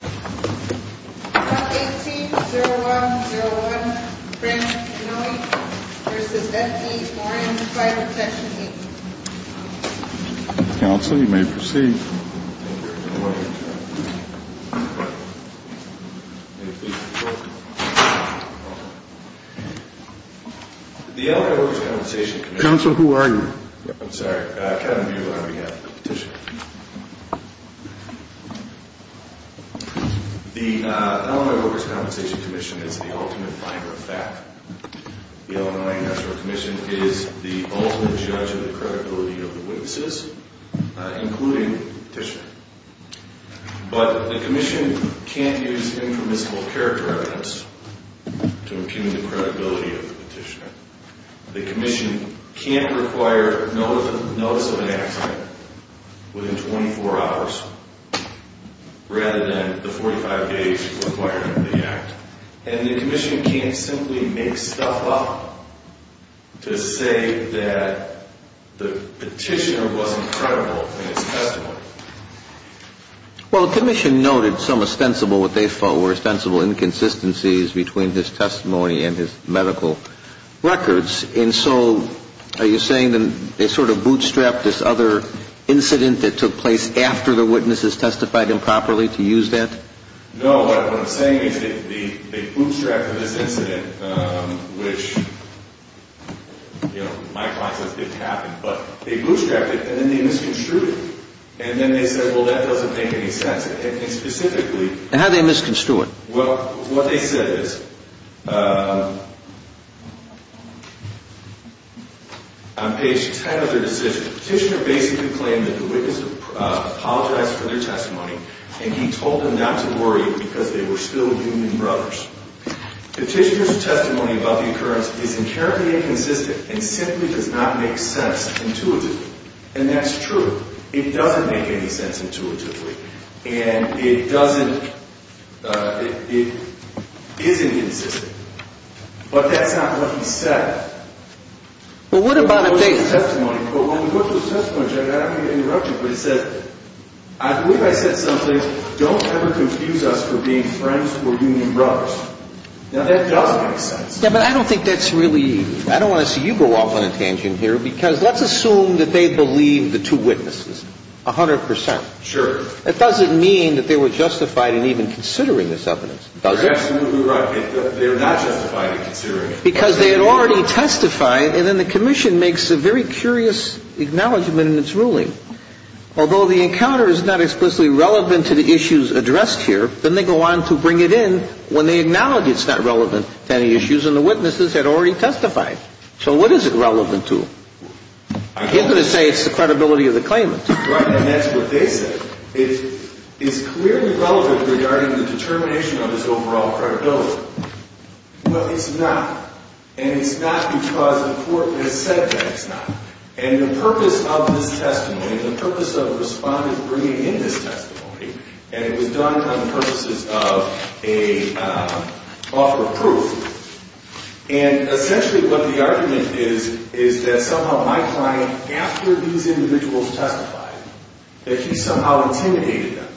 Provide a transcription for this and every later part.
118-0101, Frank Mioni v. F.E. Warren, 5 objection 8. Counsel, you may proceed. The Illinois Workers' Compensation Commission is the ultimate finder of fact. The Illinois National Commission is the ultimate judge of the credibility of the witnesses, including the petitioner. But the commission can't use impermissible character evidence to impugn the credibility of the petitioner. The commission can't require notice of an accident within 24 hours rather than the 45-day requirement of the act. And the commission can't simply make stuff up to say that the petitioner wasn't credible in his testimony. Well, the commission noted some ostensible, what they felt were ostensible, inconsistencies between his testimony and his medical records. And so are you saying they sort of bootstrapped this other incident that took place after the witnesses testified improperly to use that? No, what I'm saying is they bootstrapped this incident, which, you know, my client says didn't happen. But they bootstrapped it, and then they misconstrued it. And then they said, well, that doesn't make any sense. And specifically — And how did they misconstrue it? Well, what they said is, on page 10 of their decision, the petitioner basically claimed that the witness apologized for their testimony. And he told them not to worry because they were still human brothers. Petitioner's testimony about the occurrence is inherently inconsistent and simply does not make sense intuitively. And that's true. It doesn't make any sense intuitively. And it doesn't — it isn't consistent. But that's not what he said. Well, what about a base testimony? But when we go to the test point, Judge, I don't mean to interrupt you, but he said — I believe I said something, don't ever confuse us for being friends or human brothers. Now, that doesn't make sense. Yeah, but I don't think that's really — I don't want to see you go off on a tangent here because let's assume that they believed the two witnesses 100 percent. Sure. That doesn't mean that they were justified in even considering this evidence, does it? You're absolutely right. They were not justified in considering it. Because they had already testified, and then the commission makes a very curious acknowledgment in its ruling. Although the encounter is not explicitly relevant to the issues addressed here, then they go on to bring it in when they acknowledge it's not relevant to any issues and the witnesses had already testified. So what is it relevant to? I'm here to say it's the credibility of the claimant. Right, and that's what they said. It is clearly relevant regarding the determination of its overall credibility. Well, it's not. And it's not because the court has said that it's not. And the purpose of this testimony, the purpose of the respondent bringing in this testimony, and it was done for the purposes of an offer of proof. And essentially what the argument is, is that somehow my client, after these individuals testified, that he somehow intimidated them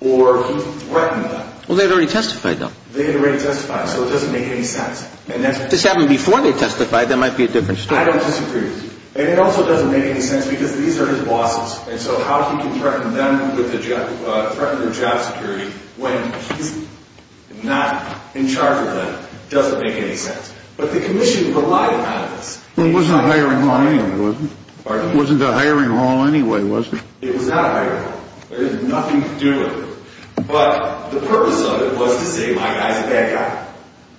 or he threatened them. Well, they had already testified, though. They had already testified, so it doesn't make any sense. If this happened before they testified, that might be a different story. I don't disagree with you. And it also doesn't make any sense because these are his bosses, and so how he can threaten them with the threat to their job security when he's not in charge of them doesn't make any sense. But the commission relied on this. It wasn't a hiring haul anyway, was it? Pardon me? It wasn't a hiring haul anyway, was it? It was not a hiring haul. There was nothing to do with it. But the purpose of it was to say, my guy's a bad guy.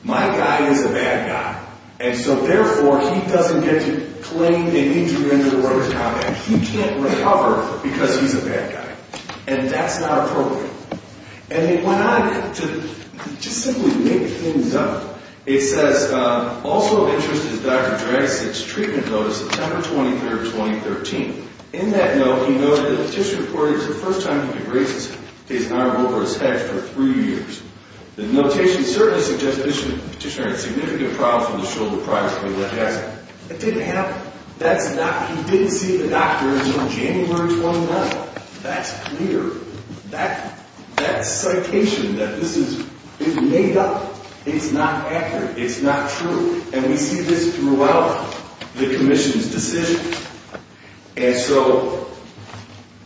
My guy is a bad guy. And so therefore, he doesn't get to claim an injury under the Roads Compact. He can't recover because he's a bad guy. And that's not appropriate. And it went on to just simply make things up. It says, also of interest is Dr. Dragasick's treatment notice, September 23, 2013. In that note, he noted that the petitioner reported it was the first time he had raised his arm over his head for three years. The notation certainly suggests the petitioner had significant problems with the shoulder project with Dr. Dragasick. It didn't happen. He didn't see the doctor until January 29. That's clear. That citation that this is made up, it's not accurate. It's not true. And we see this throughout the commission's decision. And so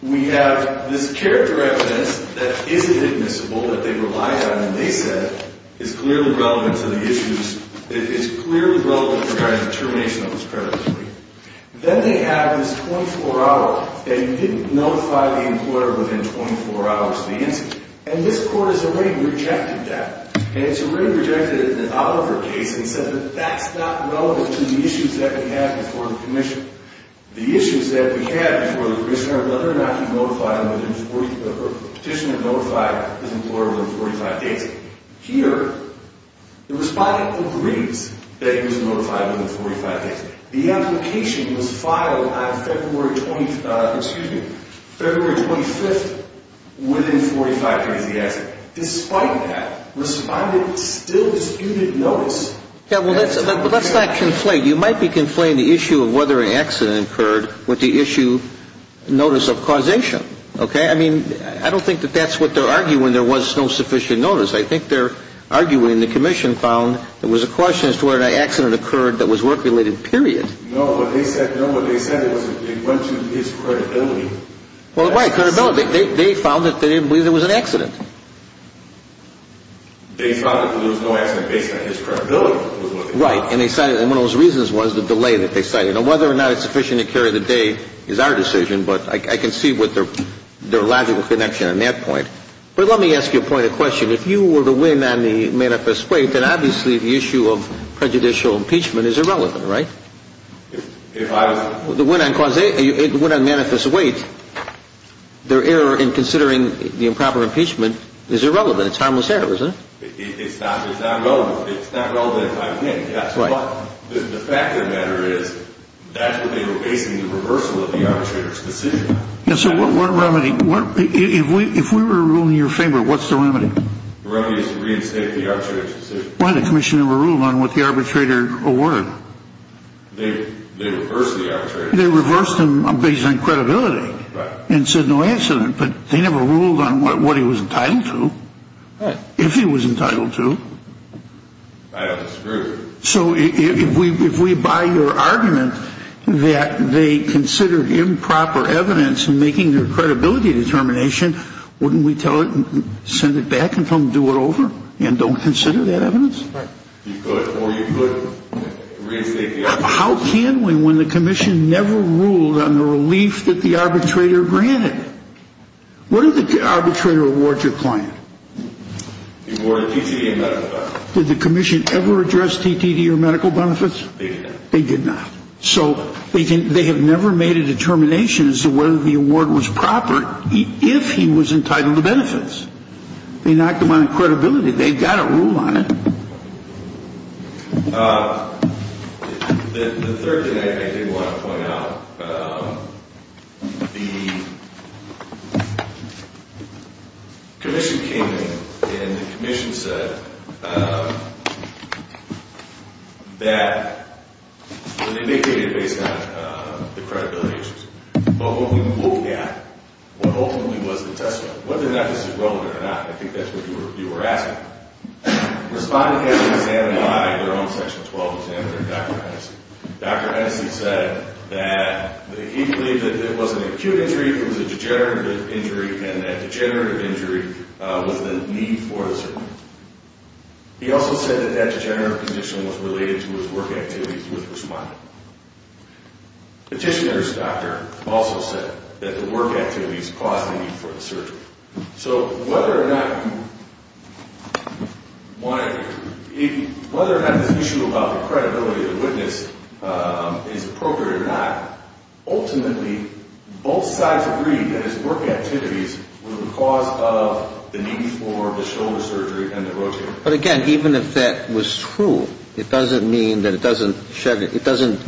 we have this character evidence that isn't admissible, that they relied on, and they said is clearly relevant to the issues. It's clearly relevant in regard to the termination of his predatory. Then they have this 24-hour, and you didn't notify the employer within 24 hours of the incident. And this court has already rejected that. And it's already rejected it in the Oliver case and said that that's not relevant to the issues that we have before the commission. The issues that we have before the commission are whether or not you notified within 40 or the petitioner notified his employer within 45 days. Here, the respondent agrees that he was notified within 45 days. The application was filed on February 25th within 45 days of the accident. Despite that, the respondent still disputed notice. Yeah, well, let's not conflate. You might be conflating the issue of whether an accident occurred with the issue notice of causation, okay? I mean, I don't think that that's what they're arguing. There was no sufficient notice. I think they're arguing the commission found there was a question as to whether an accident occurred that was work-related, period. No, what they said was they went to his credibility. Well, right, credibility. They found that they didn't believe there was an accident. They found that there was no accident based on his credibility. Right. And one of those reasons was the delay that they cited. Now, whether or not it's sufficient to carry the day is our decision, but I can see their logical connection on that point. But let me ask you a point of question. If you were to win on the manifest weight, then obviously the issue of prejudicial impeachment is irrelevant, right? If I was to win on cause – win on manifest weight, their error in considering the improper impeachment is irrelevant. It's harmless error, isn't it? It's not relevant. It's not relevant if I win. That's right. But the fact of the matter is that's what they were basing the reversal of the arbitrator's decision. So what remedy – if we were ruling in your favor, what's the remedy? The remedy is to reinstate the arbitrator's decision. Why? The commission never ruled on what the arbitrator awarded. They reversed the arbitrator. They reversed him based on credibility. Right. And said no accident. But they never ruled on what he was entitled to. Right. If he was entitled to. I don't agree. So if we buy your argument that they considered improper evidence in making their credibility determination, wouldn't we tell it – send it back and tell them to do it over and don't consider that evidence? Right. You could or you couldn't reinstate the arbitrator's decision. How can we when the commission never ruled on the relief that the arbitrator granted? What did the arbitrator award your client? He awarded TTD and medical benefits. Did the commission ever address TTD or medical benefits? They did not. They did not. So they have never made a determination as to whether the award was proper if he was entitled to benefits. They knocked them on credibility. They've got to rule on it. The third thing I did want to point out, the commission came in and the commission said that – and they did it based on the credibility issues. But what we were looking at, what ultimately was the testimony, whether or not this is relevant or not, I think that's what you were asking. Respondent had it examined by their own Section 12 examiner, Dr. Hennessey. Dr. Hennessey said that he believed that it was an acute injury, it was a degenerative injury, and that degenerative injury was the need for the surgery. He also said that that degenerative condition was related to his work activities with Respondent. Petitioner's doctor also said that the work activities caused the need for the surgery. So whether or not – whether or not this issue about the credibility of the witness is appropriate or not, ultimately both sides agreed that his work activities were the cause of the need for the shoulder surgery and the rotator cuff. But again, even if that was true, it doesn't mean that it doesn't – it doesn't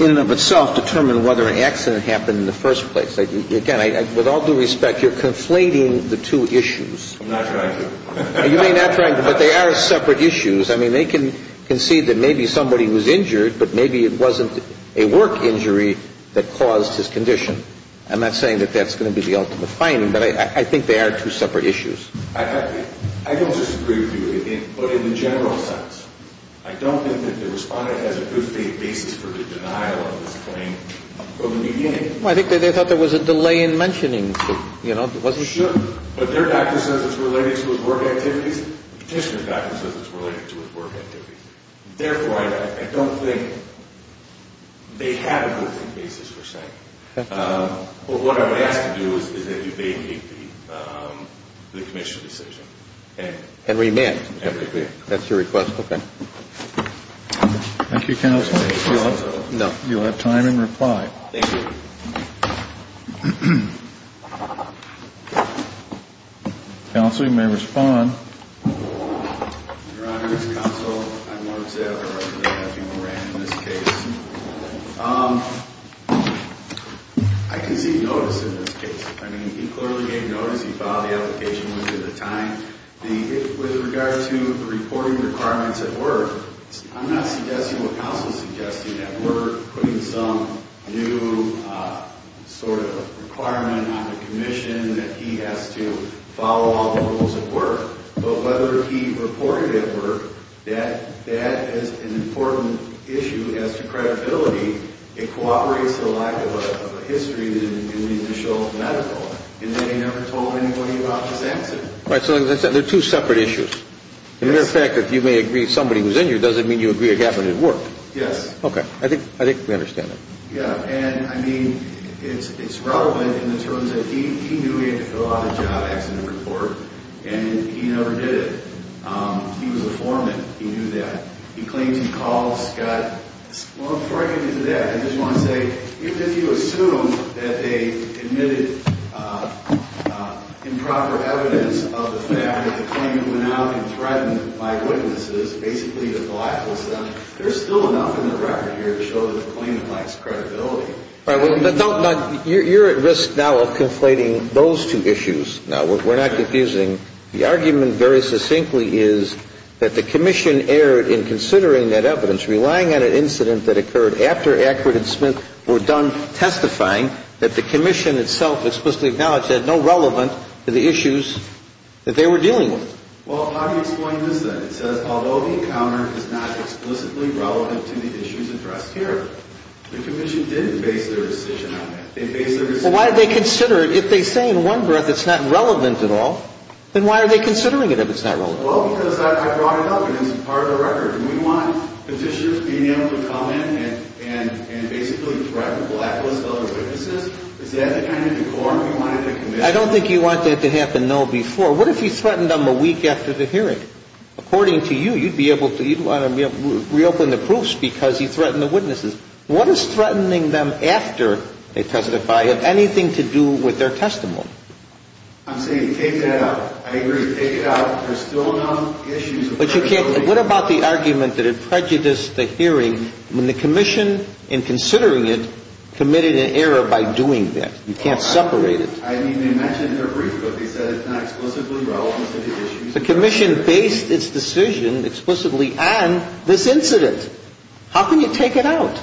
in and of itself determine whether an accident happened in the first place. Again, with all due respect, you're conflating the two issues. I'm not trying to. You may not try, but they are separate issues. I mean, they can see that maybe somebody was injured, but maybe it wasn't a work injury that caused his condition. I'm not saying that that's going to be the ultimate finding, but I think they are two separate issues. I don't disagree with you, but in the general sense, I don't think that the Respondent has a good faith basis for the denial of this claim from the beginning. Well, I think that they thought there was a delay in mentioning it. Sure, but their doctor says it's related to his work activities. The petitioner's doctor says it's related to his work activities. Therefore, I don't think they have a good faith basis for saying it. But what I would ask to do is that you vacate the Commission's decision. And remand it. That's your request. Okay. Thank you, Counsel. You'll have time in reply. Thank you. Counsel, you may respond. Your Honor, it's Counsel. I'm Mark Zeller. I'm going to have you remand in this case. I can see notice in this case. I mean, he clearly gave notice. He filed the application within the time. With regard to the reporting requirements at work, I'm not suggesting what Counsel is suggesting, that we're putting some new sort of requirement on the Commission that he has to follow all the rules at work. But whether he reported at work, that is an important issue as to credibility. It cooperates the lack of a history in the initial medical. And then he never told anybody about his accident. All right. So as I said, they're two separate issues. As a matter of fact, if you may agree somebody was injured, does it mean you agree a gap in his work? Yes. Okay. I think we understand that. Yeah. And, I mean, it's relevant in the terms that he knew he had to fill out a job accident report, and he never did it. He was a foreman. He knew that. He claims he called Scott. Well, before I get into that, I just want to say, if you assume that they admitted improper evidence of the fact that the claimant went out and threatened my witnesses, basically to go after them, there's still enough in the record here to show that the claimant lacks credibility. All right. Well, you're at risk now of conflating those two issues. Now, we're not confusing. The argument very succinctly is that the commission erred in considering that evidence, relying on an incident that occurred after Ackford and Smith were done testifying, that the commission itself explicitly acknowledged it had no relevance to the issues that they were dealing with. Well, how do you explain this then? It says, although the encounter is not explicitly relevant to the issues addressed here, the commission didn't base their decision on that. They based their decision on that. Then why are they considering it if it's not relevant? Well, because I brought it up, and it's part of the record. Do we want petitions being able to come in and basically threaten blacklist other witnesses? Is that the kind of decorum you wanted the commission to have? I don't think you want that to happen, no, before. What if he threatened them a week after the hearing? According to you, you'd want to reopen the proofs because he threatened the witnesses. What is threatening them after they testify have anything to do with their testimony? I'm saying take that out. I agree, take it out. There's still enough issues. But you can't. What about the argument that it prejudiced the hearing when the commission, in considering it, committed an error by doing that? You can't separate it. I mean, they mentioned it in their brief, but they said it's not explicitly relevant to the issues. The commission based its decision explicitly on this incident. How can you take it out?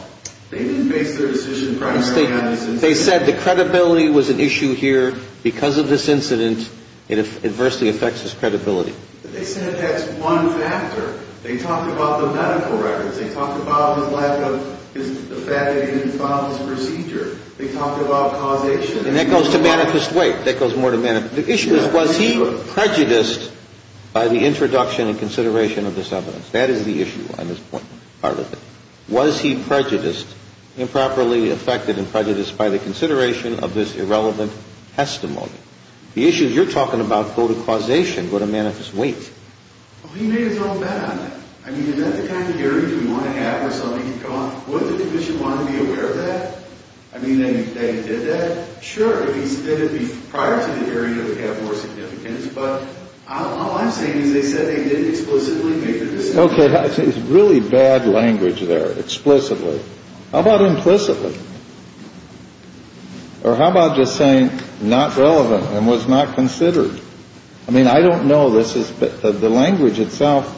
They didn't base their decision primarily on this incident. But they said the credibility was an issue here. Because of this incident, it adversely affects his credibility. But they said that's one factor. They talked about the medical records. They talked about his lack of, the fact that he didn't file his procedure. They talked about causation. And that goes to manifest weight. That goes more to manifest weight. The issue is, was he prejudiced by the introduction and consideration of this evidence? That is the issue on this point, part of it. Was he prejudiced, improperly affected and prejudiced by the consideration of this irrelevant testimony? The issues you're talking about go to causation, go to manifest weight. Well, he made his own bet on it. I mean, is that the kind of hearing you want to have where somebody can go on? Would the commission want to be aware of that? I mean, they did that? Sure. If they did it prior to the hearing, it would have more significance. But all I'm saying is they said they didn't explicitly make the decision. Okay. Really bad language there. Explicitly. How about implicitly? Or how about just saying not relevant and was not considered? I mean, I don't know. The language itself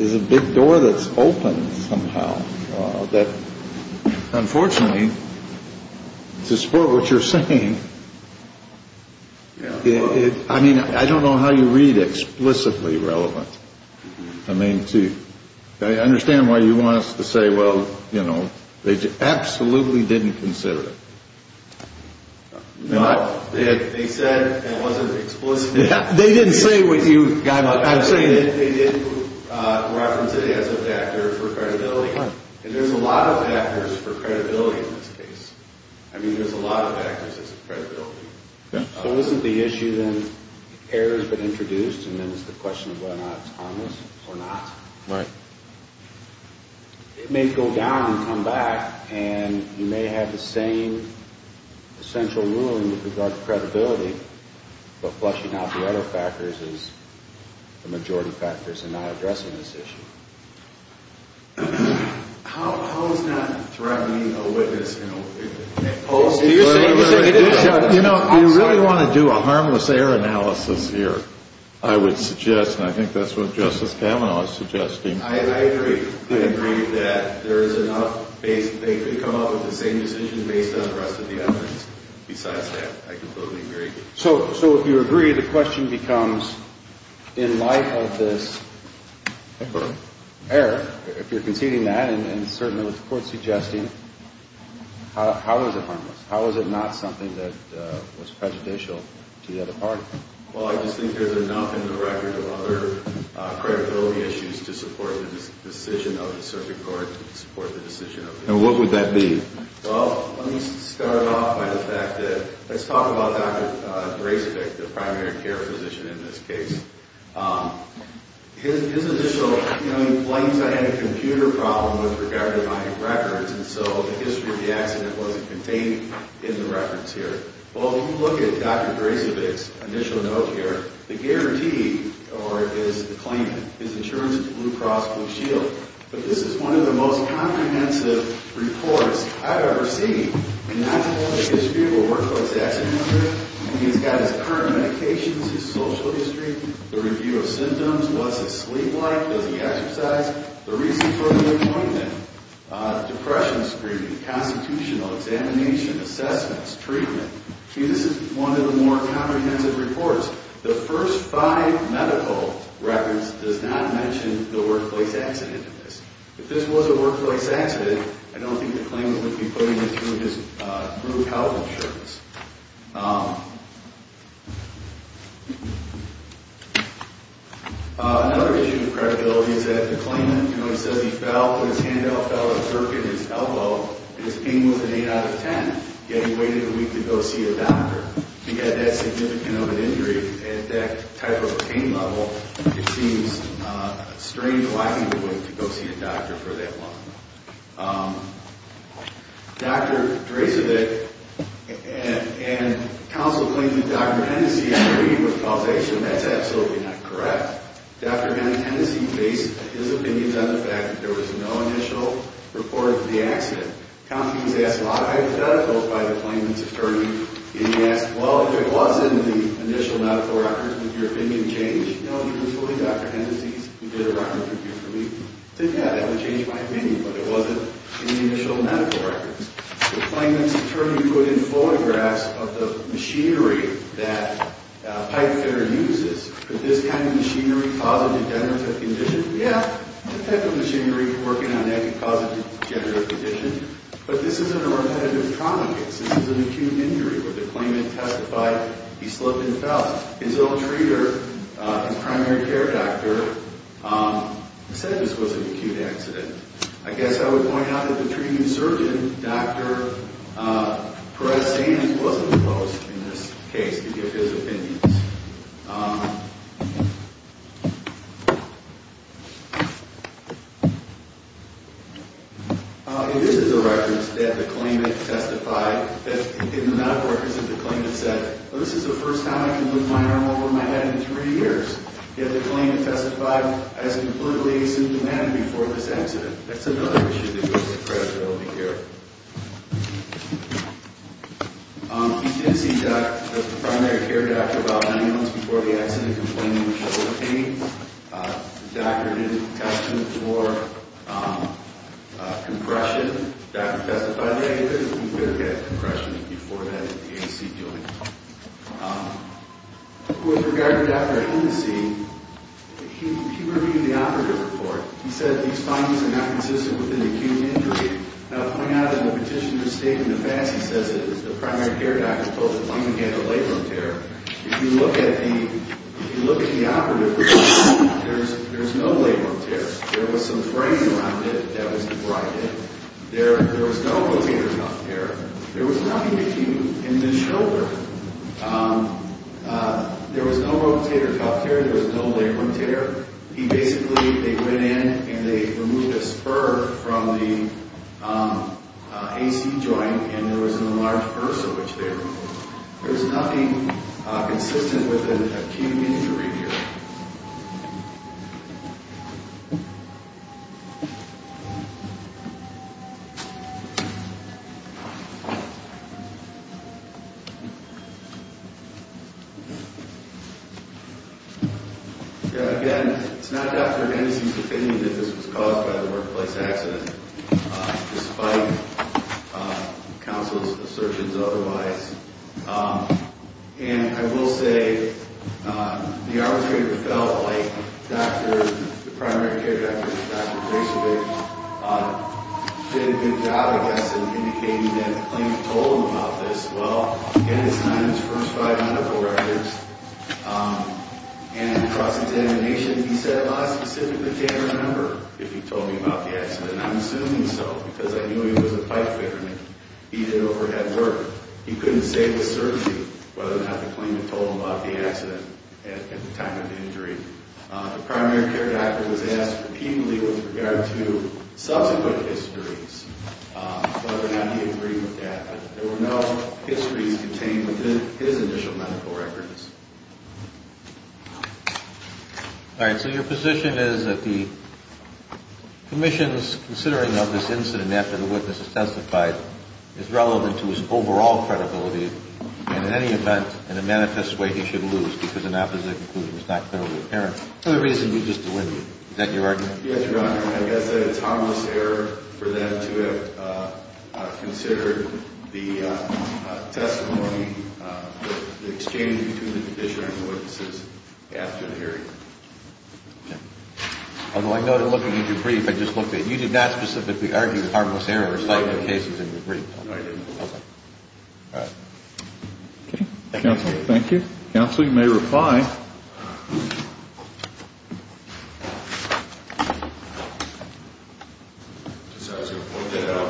is a big door that's open somehow. Unfortunately, to support what you're saying, I mean, I don't know how you read explicitly relevant. I mean, I understand why you want us to say, well, you know, they absolutely didn't consider it. No, they said it wasn't explicitly. They didn't say what you got. I'm saying they did reference it as a factor for credibility. And there's a lot of factors for credibility in this case. I mean, there's a lot of factors for credibility. If it wasn't the issue, then error has been introduced, and then it's the question of whether or not it's harmless or not. Right. It may go down and come back, and you may have the same essential ruling with regard to credibility, but fleshing out the other factors is the majority factors in not addressing this issue. How is that threatening a witness? You know, you really want to do a harmless error analysis here, I would suggest, and I think that's what Justice Kavanaugh is suggesting. I agree. I agree that there is enough. They could come up with the same decision based on the rest of the evidence. Besides that, I completely agree. So if you agree, the question becomes, in light of this error, if you're conceding that, and certainly with the court suggesting, how is it harmless? How is it not something that was prejudicial to the other party? Well, I just think there's enough in the record of other credibility issues to support the decision of the circuit court, to support the decision of the jury. And what would that be? Well, let me start off by the fact that let's talk about Dr. Bracevich, the primary care physician in this case. His initial, you know, he claims I had a computer problem with regard to my records, and so the history of the accident wasn't contained in the records here. Well, if you look at Dr. Bracevich's initial note here, the guarantee, or his claim, his insurance is Blue Cross Blue Shield. But this is one of the most comprehensive reports I've ever seen. And that's all the history of a workplace accident. He's got his current medications, his social history, the review of symptoms, what's his sleep like, does he exercise, the reasons for the appointment, depression screening, constitutional examination, assessments, treatment. This is one of the more comprehensive reports. The first five medical records does not mention the workplace accident in this. If this was a workplace accident, I don't think the claimant would be putting it through his blue health insurance. Another issue of credibility is that the claimant, you know, he says he fell, but his hand out fell a jerk in his elbow, and his pain was an 8 out of 10. Yet he waited a week to go see a doctor. He had that significant of an injury. At that type of pain level, it seems strange, lacking the will to go see a doctor for that long. Dr. Bracevich and counsel claimant Dr. Hennessey agreed with the causation. That's absolutely not correct. Dr. Hennessey based his opinions on the fact that there was no initial report of the accident. Counties asked a lot of hypotheticals by the claimant's attorney, and he asked, well, if it was in the initial medical records, would your opinion change? No, he was fully Dr. Hennessey's. He did a record review for me. He said, yeah, that would change my opinion, but it wasn't in the initial medical records. The claimant's attorney put in photographs of the machinery that Pipefitter uses. Could this kind of machinery cause a degenerative condition? He said, yeah, the type of machinery working on that could cause a degenerative condition, but this isn't a run-of-the-mill trauma case. This is an acute injury where the claimant testified he slipped and fell. His ill-treater, his primary care doctor, said this was an acute accident. I guess I would point out that the treating surgeon, Dr. Perez-Sanders, wasn't opposed in this case to give his opinions. It is in the records that the claimant testified, in the medical records, that the claimant said, well, this is the first time I can lift my arm over my head in three years. Yet the claimant testified as completely asymptomatic before this accident. That's another issue that goes with credibility care. Dr. Hennessey, the primary care doctor, about nine months before the accident, he was complaining of shoulder pain. The doctor did a test for compression. The doctor testified that he could have had compression before that, that the A&C joint. With regard to Dr. Hennessey, he reviewed the operative report. He said these findings are not consistent with an acute injury. And I'll point out in the petitioner's statement in the back, he says that the primary care doctor opposed it. He didn't get a labral tear. If you look at the operative report, there's no labral tear. There was some fraying around it that was derided. There was no rotator cuff tear. There was nothing acute in the shoulder. There was no rotator cuff tear. There was no labral tear. He basically, they went in and they removed a spur from the A&C joint, and there was an enlarged bursa which they removed. There was nothing consistent with an acute injury here. Again, it's not Dr. Hennessey's opinion that this was caused by the workplace accident, despite counsel's assertions otherwise. And I will say the arbitrator felt like the primary care doctor, Dr. Gracevich, did a good job, I guess, in indicating that the claimant told him about this. Well, again, it's not in his first five medical records. And across examination, he said, Well, I specifically can't remember if he told me about the accident. I'm assuming so because I knew he was a pipefitter and he did overhead work. He couldn't say to the surgeon whether or not the claimant told him about the accident at the time of the injury. The primary care doctor was asked repeatedly with regard to subsequent histories, whether or not he agreed with that, but there were no histories contained within his initial medical records. All right, so your position is that the commission's considering of this incident after the witness has testified is relevant to his overall credibility, and in any event, in a manifest way, he should lose because an opposite conclusion is not clearly apparent. Another reason would be just to win you. Is that your argument? Yes, Your Honor. I guess an autonomous error for them to have considered the testimony, the exchange between the condition and the witnesses after the hearing. Okay. Although I noted looking at your brief, I just looked at it. You did not specifically argue with harmless error or sighted cases in your brief. No, I didn't. Okay. All right. Okay. Counsel, thank you. Counsel, you may reply. I was going to point that out.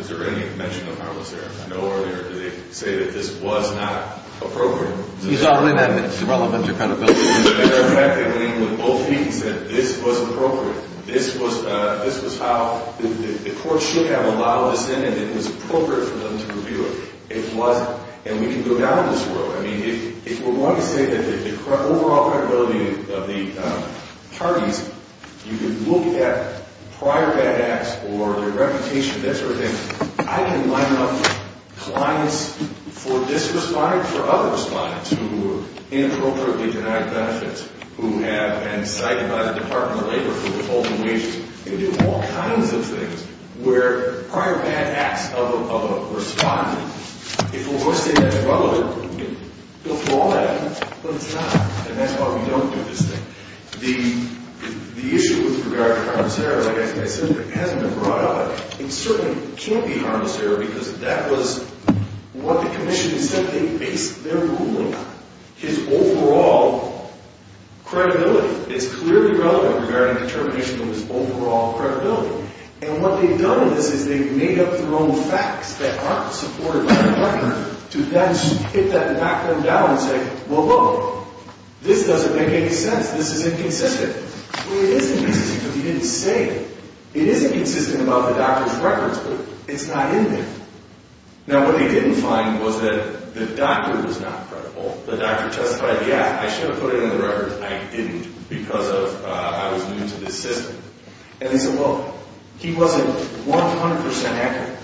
Is there any mention of harmless error? I know earlier they say that this was not appropriate. He's already made it relevant to credibility. The fact that when both people said this was appropriate, this was how the court should have allowed this in and it was appropriate for them to review it. It wasn't, and we can go down this road. I mean, if we're going to say that the overall credibility of the parties, you can look at prior bad acts or their reputation, that sort of thing. I can line up clients for this respondent, for other respondents who were inappropriately denied benefits, who have been cited by the Department of Labor for withholding wages. You can do all kinds of things where prior bad acts of a respondent, if we're going to say that's relevant, we can go through all that, but it's not, and that's why we don't do this thing. The issue with regard to harmless error, like I said, hasn't been brought up. It certainly can't be harmless error because that was what the commission said they based their ruling on, his overall credibility. It's clearly relevant regarding determination of his overall credibility, and what they've done in this is they've made up their own facts that aren't supported by the Department to then hit that background down and say, well, look, this doesn't make any sense. This is inconsistent. Well, it is inconsistent, but they didn't say it. It is inconsistent about the doctor's records, but it's not in there. Now, what they didn't find was that the doctor was not credible. The doctor testified, yeah, I should have put it in the records. I didn't because I was new to this system. And they said, well, he wasn't 100% accurate.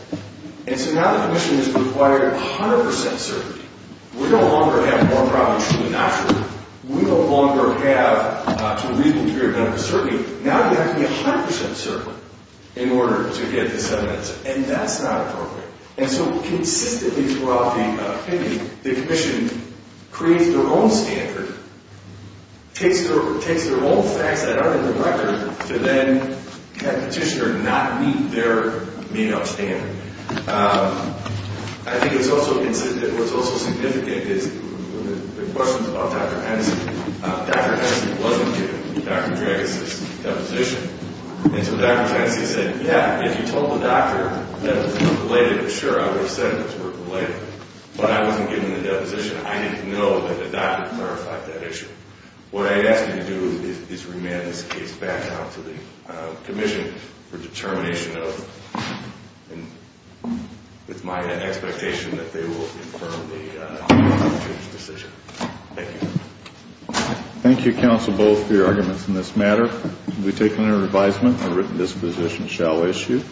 And so now the commission has required 100% certainty. We no longer have more problems true than not true. We no longer have, to the reasonable degree of medical certainty, now you have to be 100% certain in order to get this evidence, and that's not appropriate. And so consistently throughout the committee, the commission creates their own standard, takes their own facts that aren't in the record to then have the petitioner not meet their made-up standard. I think what's also significant is the questions about Dr. Hennessey. Dr. Hennessey wasn't given Dr. Dragas' deposition. And so Dr. Hennessey said, yeah, if you told the doctor that it was related, sure, I would have said it was related. But I wasn't given the deposition. I didn't know that the doctor clarified that issue. What I ask you to do is remand this case back out to the commission for determination of, and it's my expectation that they will confirm the change of decision. Thank you. Thank you, counsel, both, for your arguments in this matter. We take it under advisement that this position shall issue.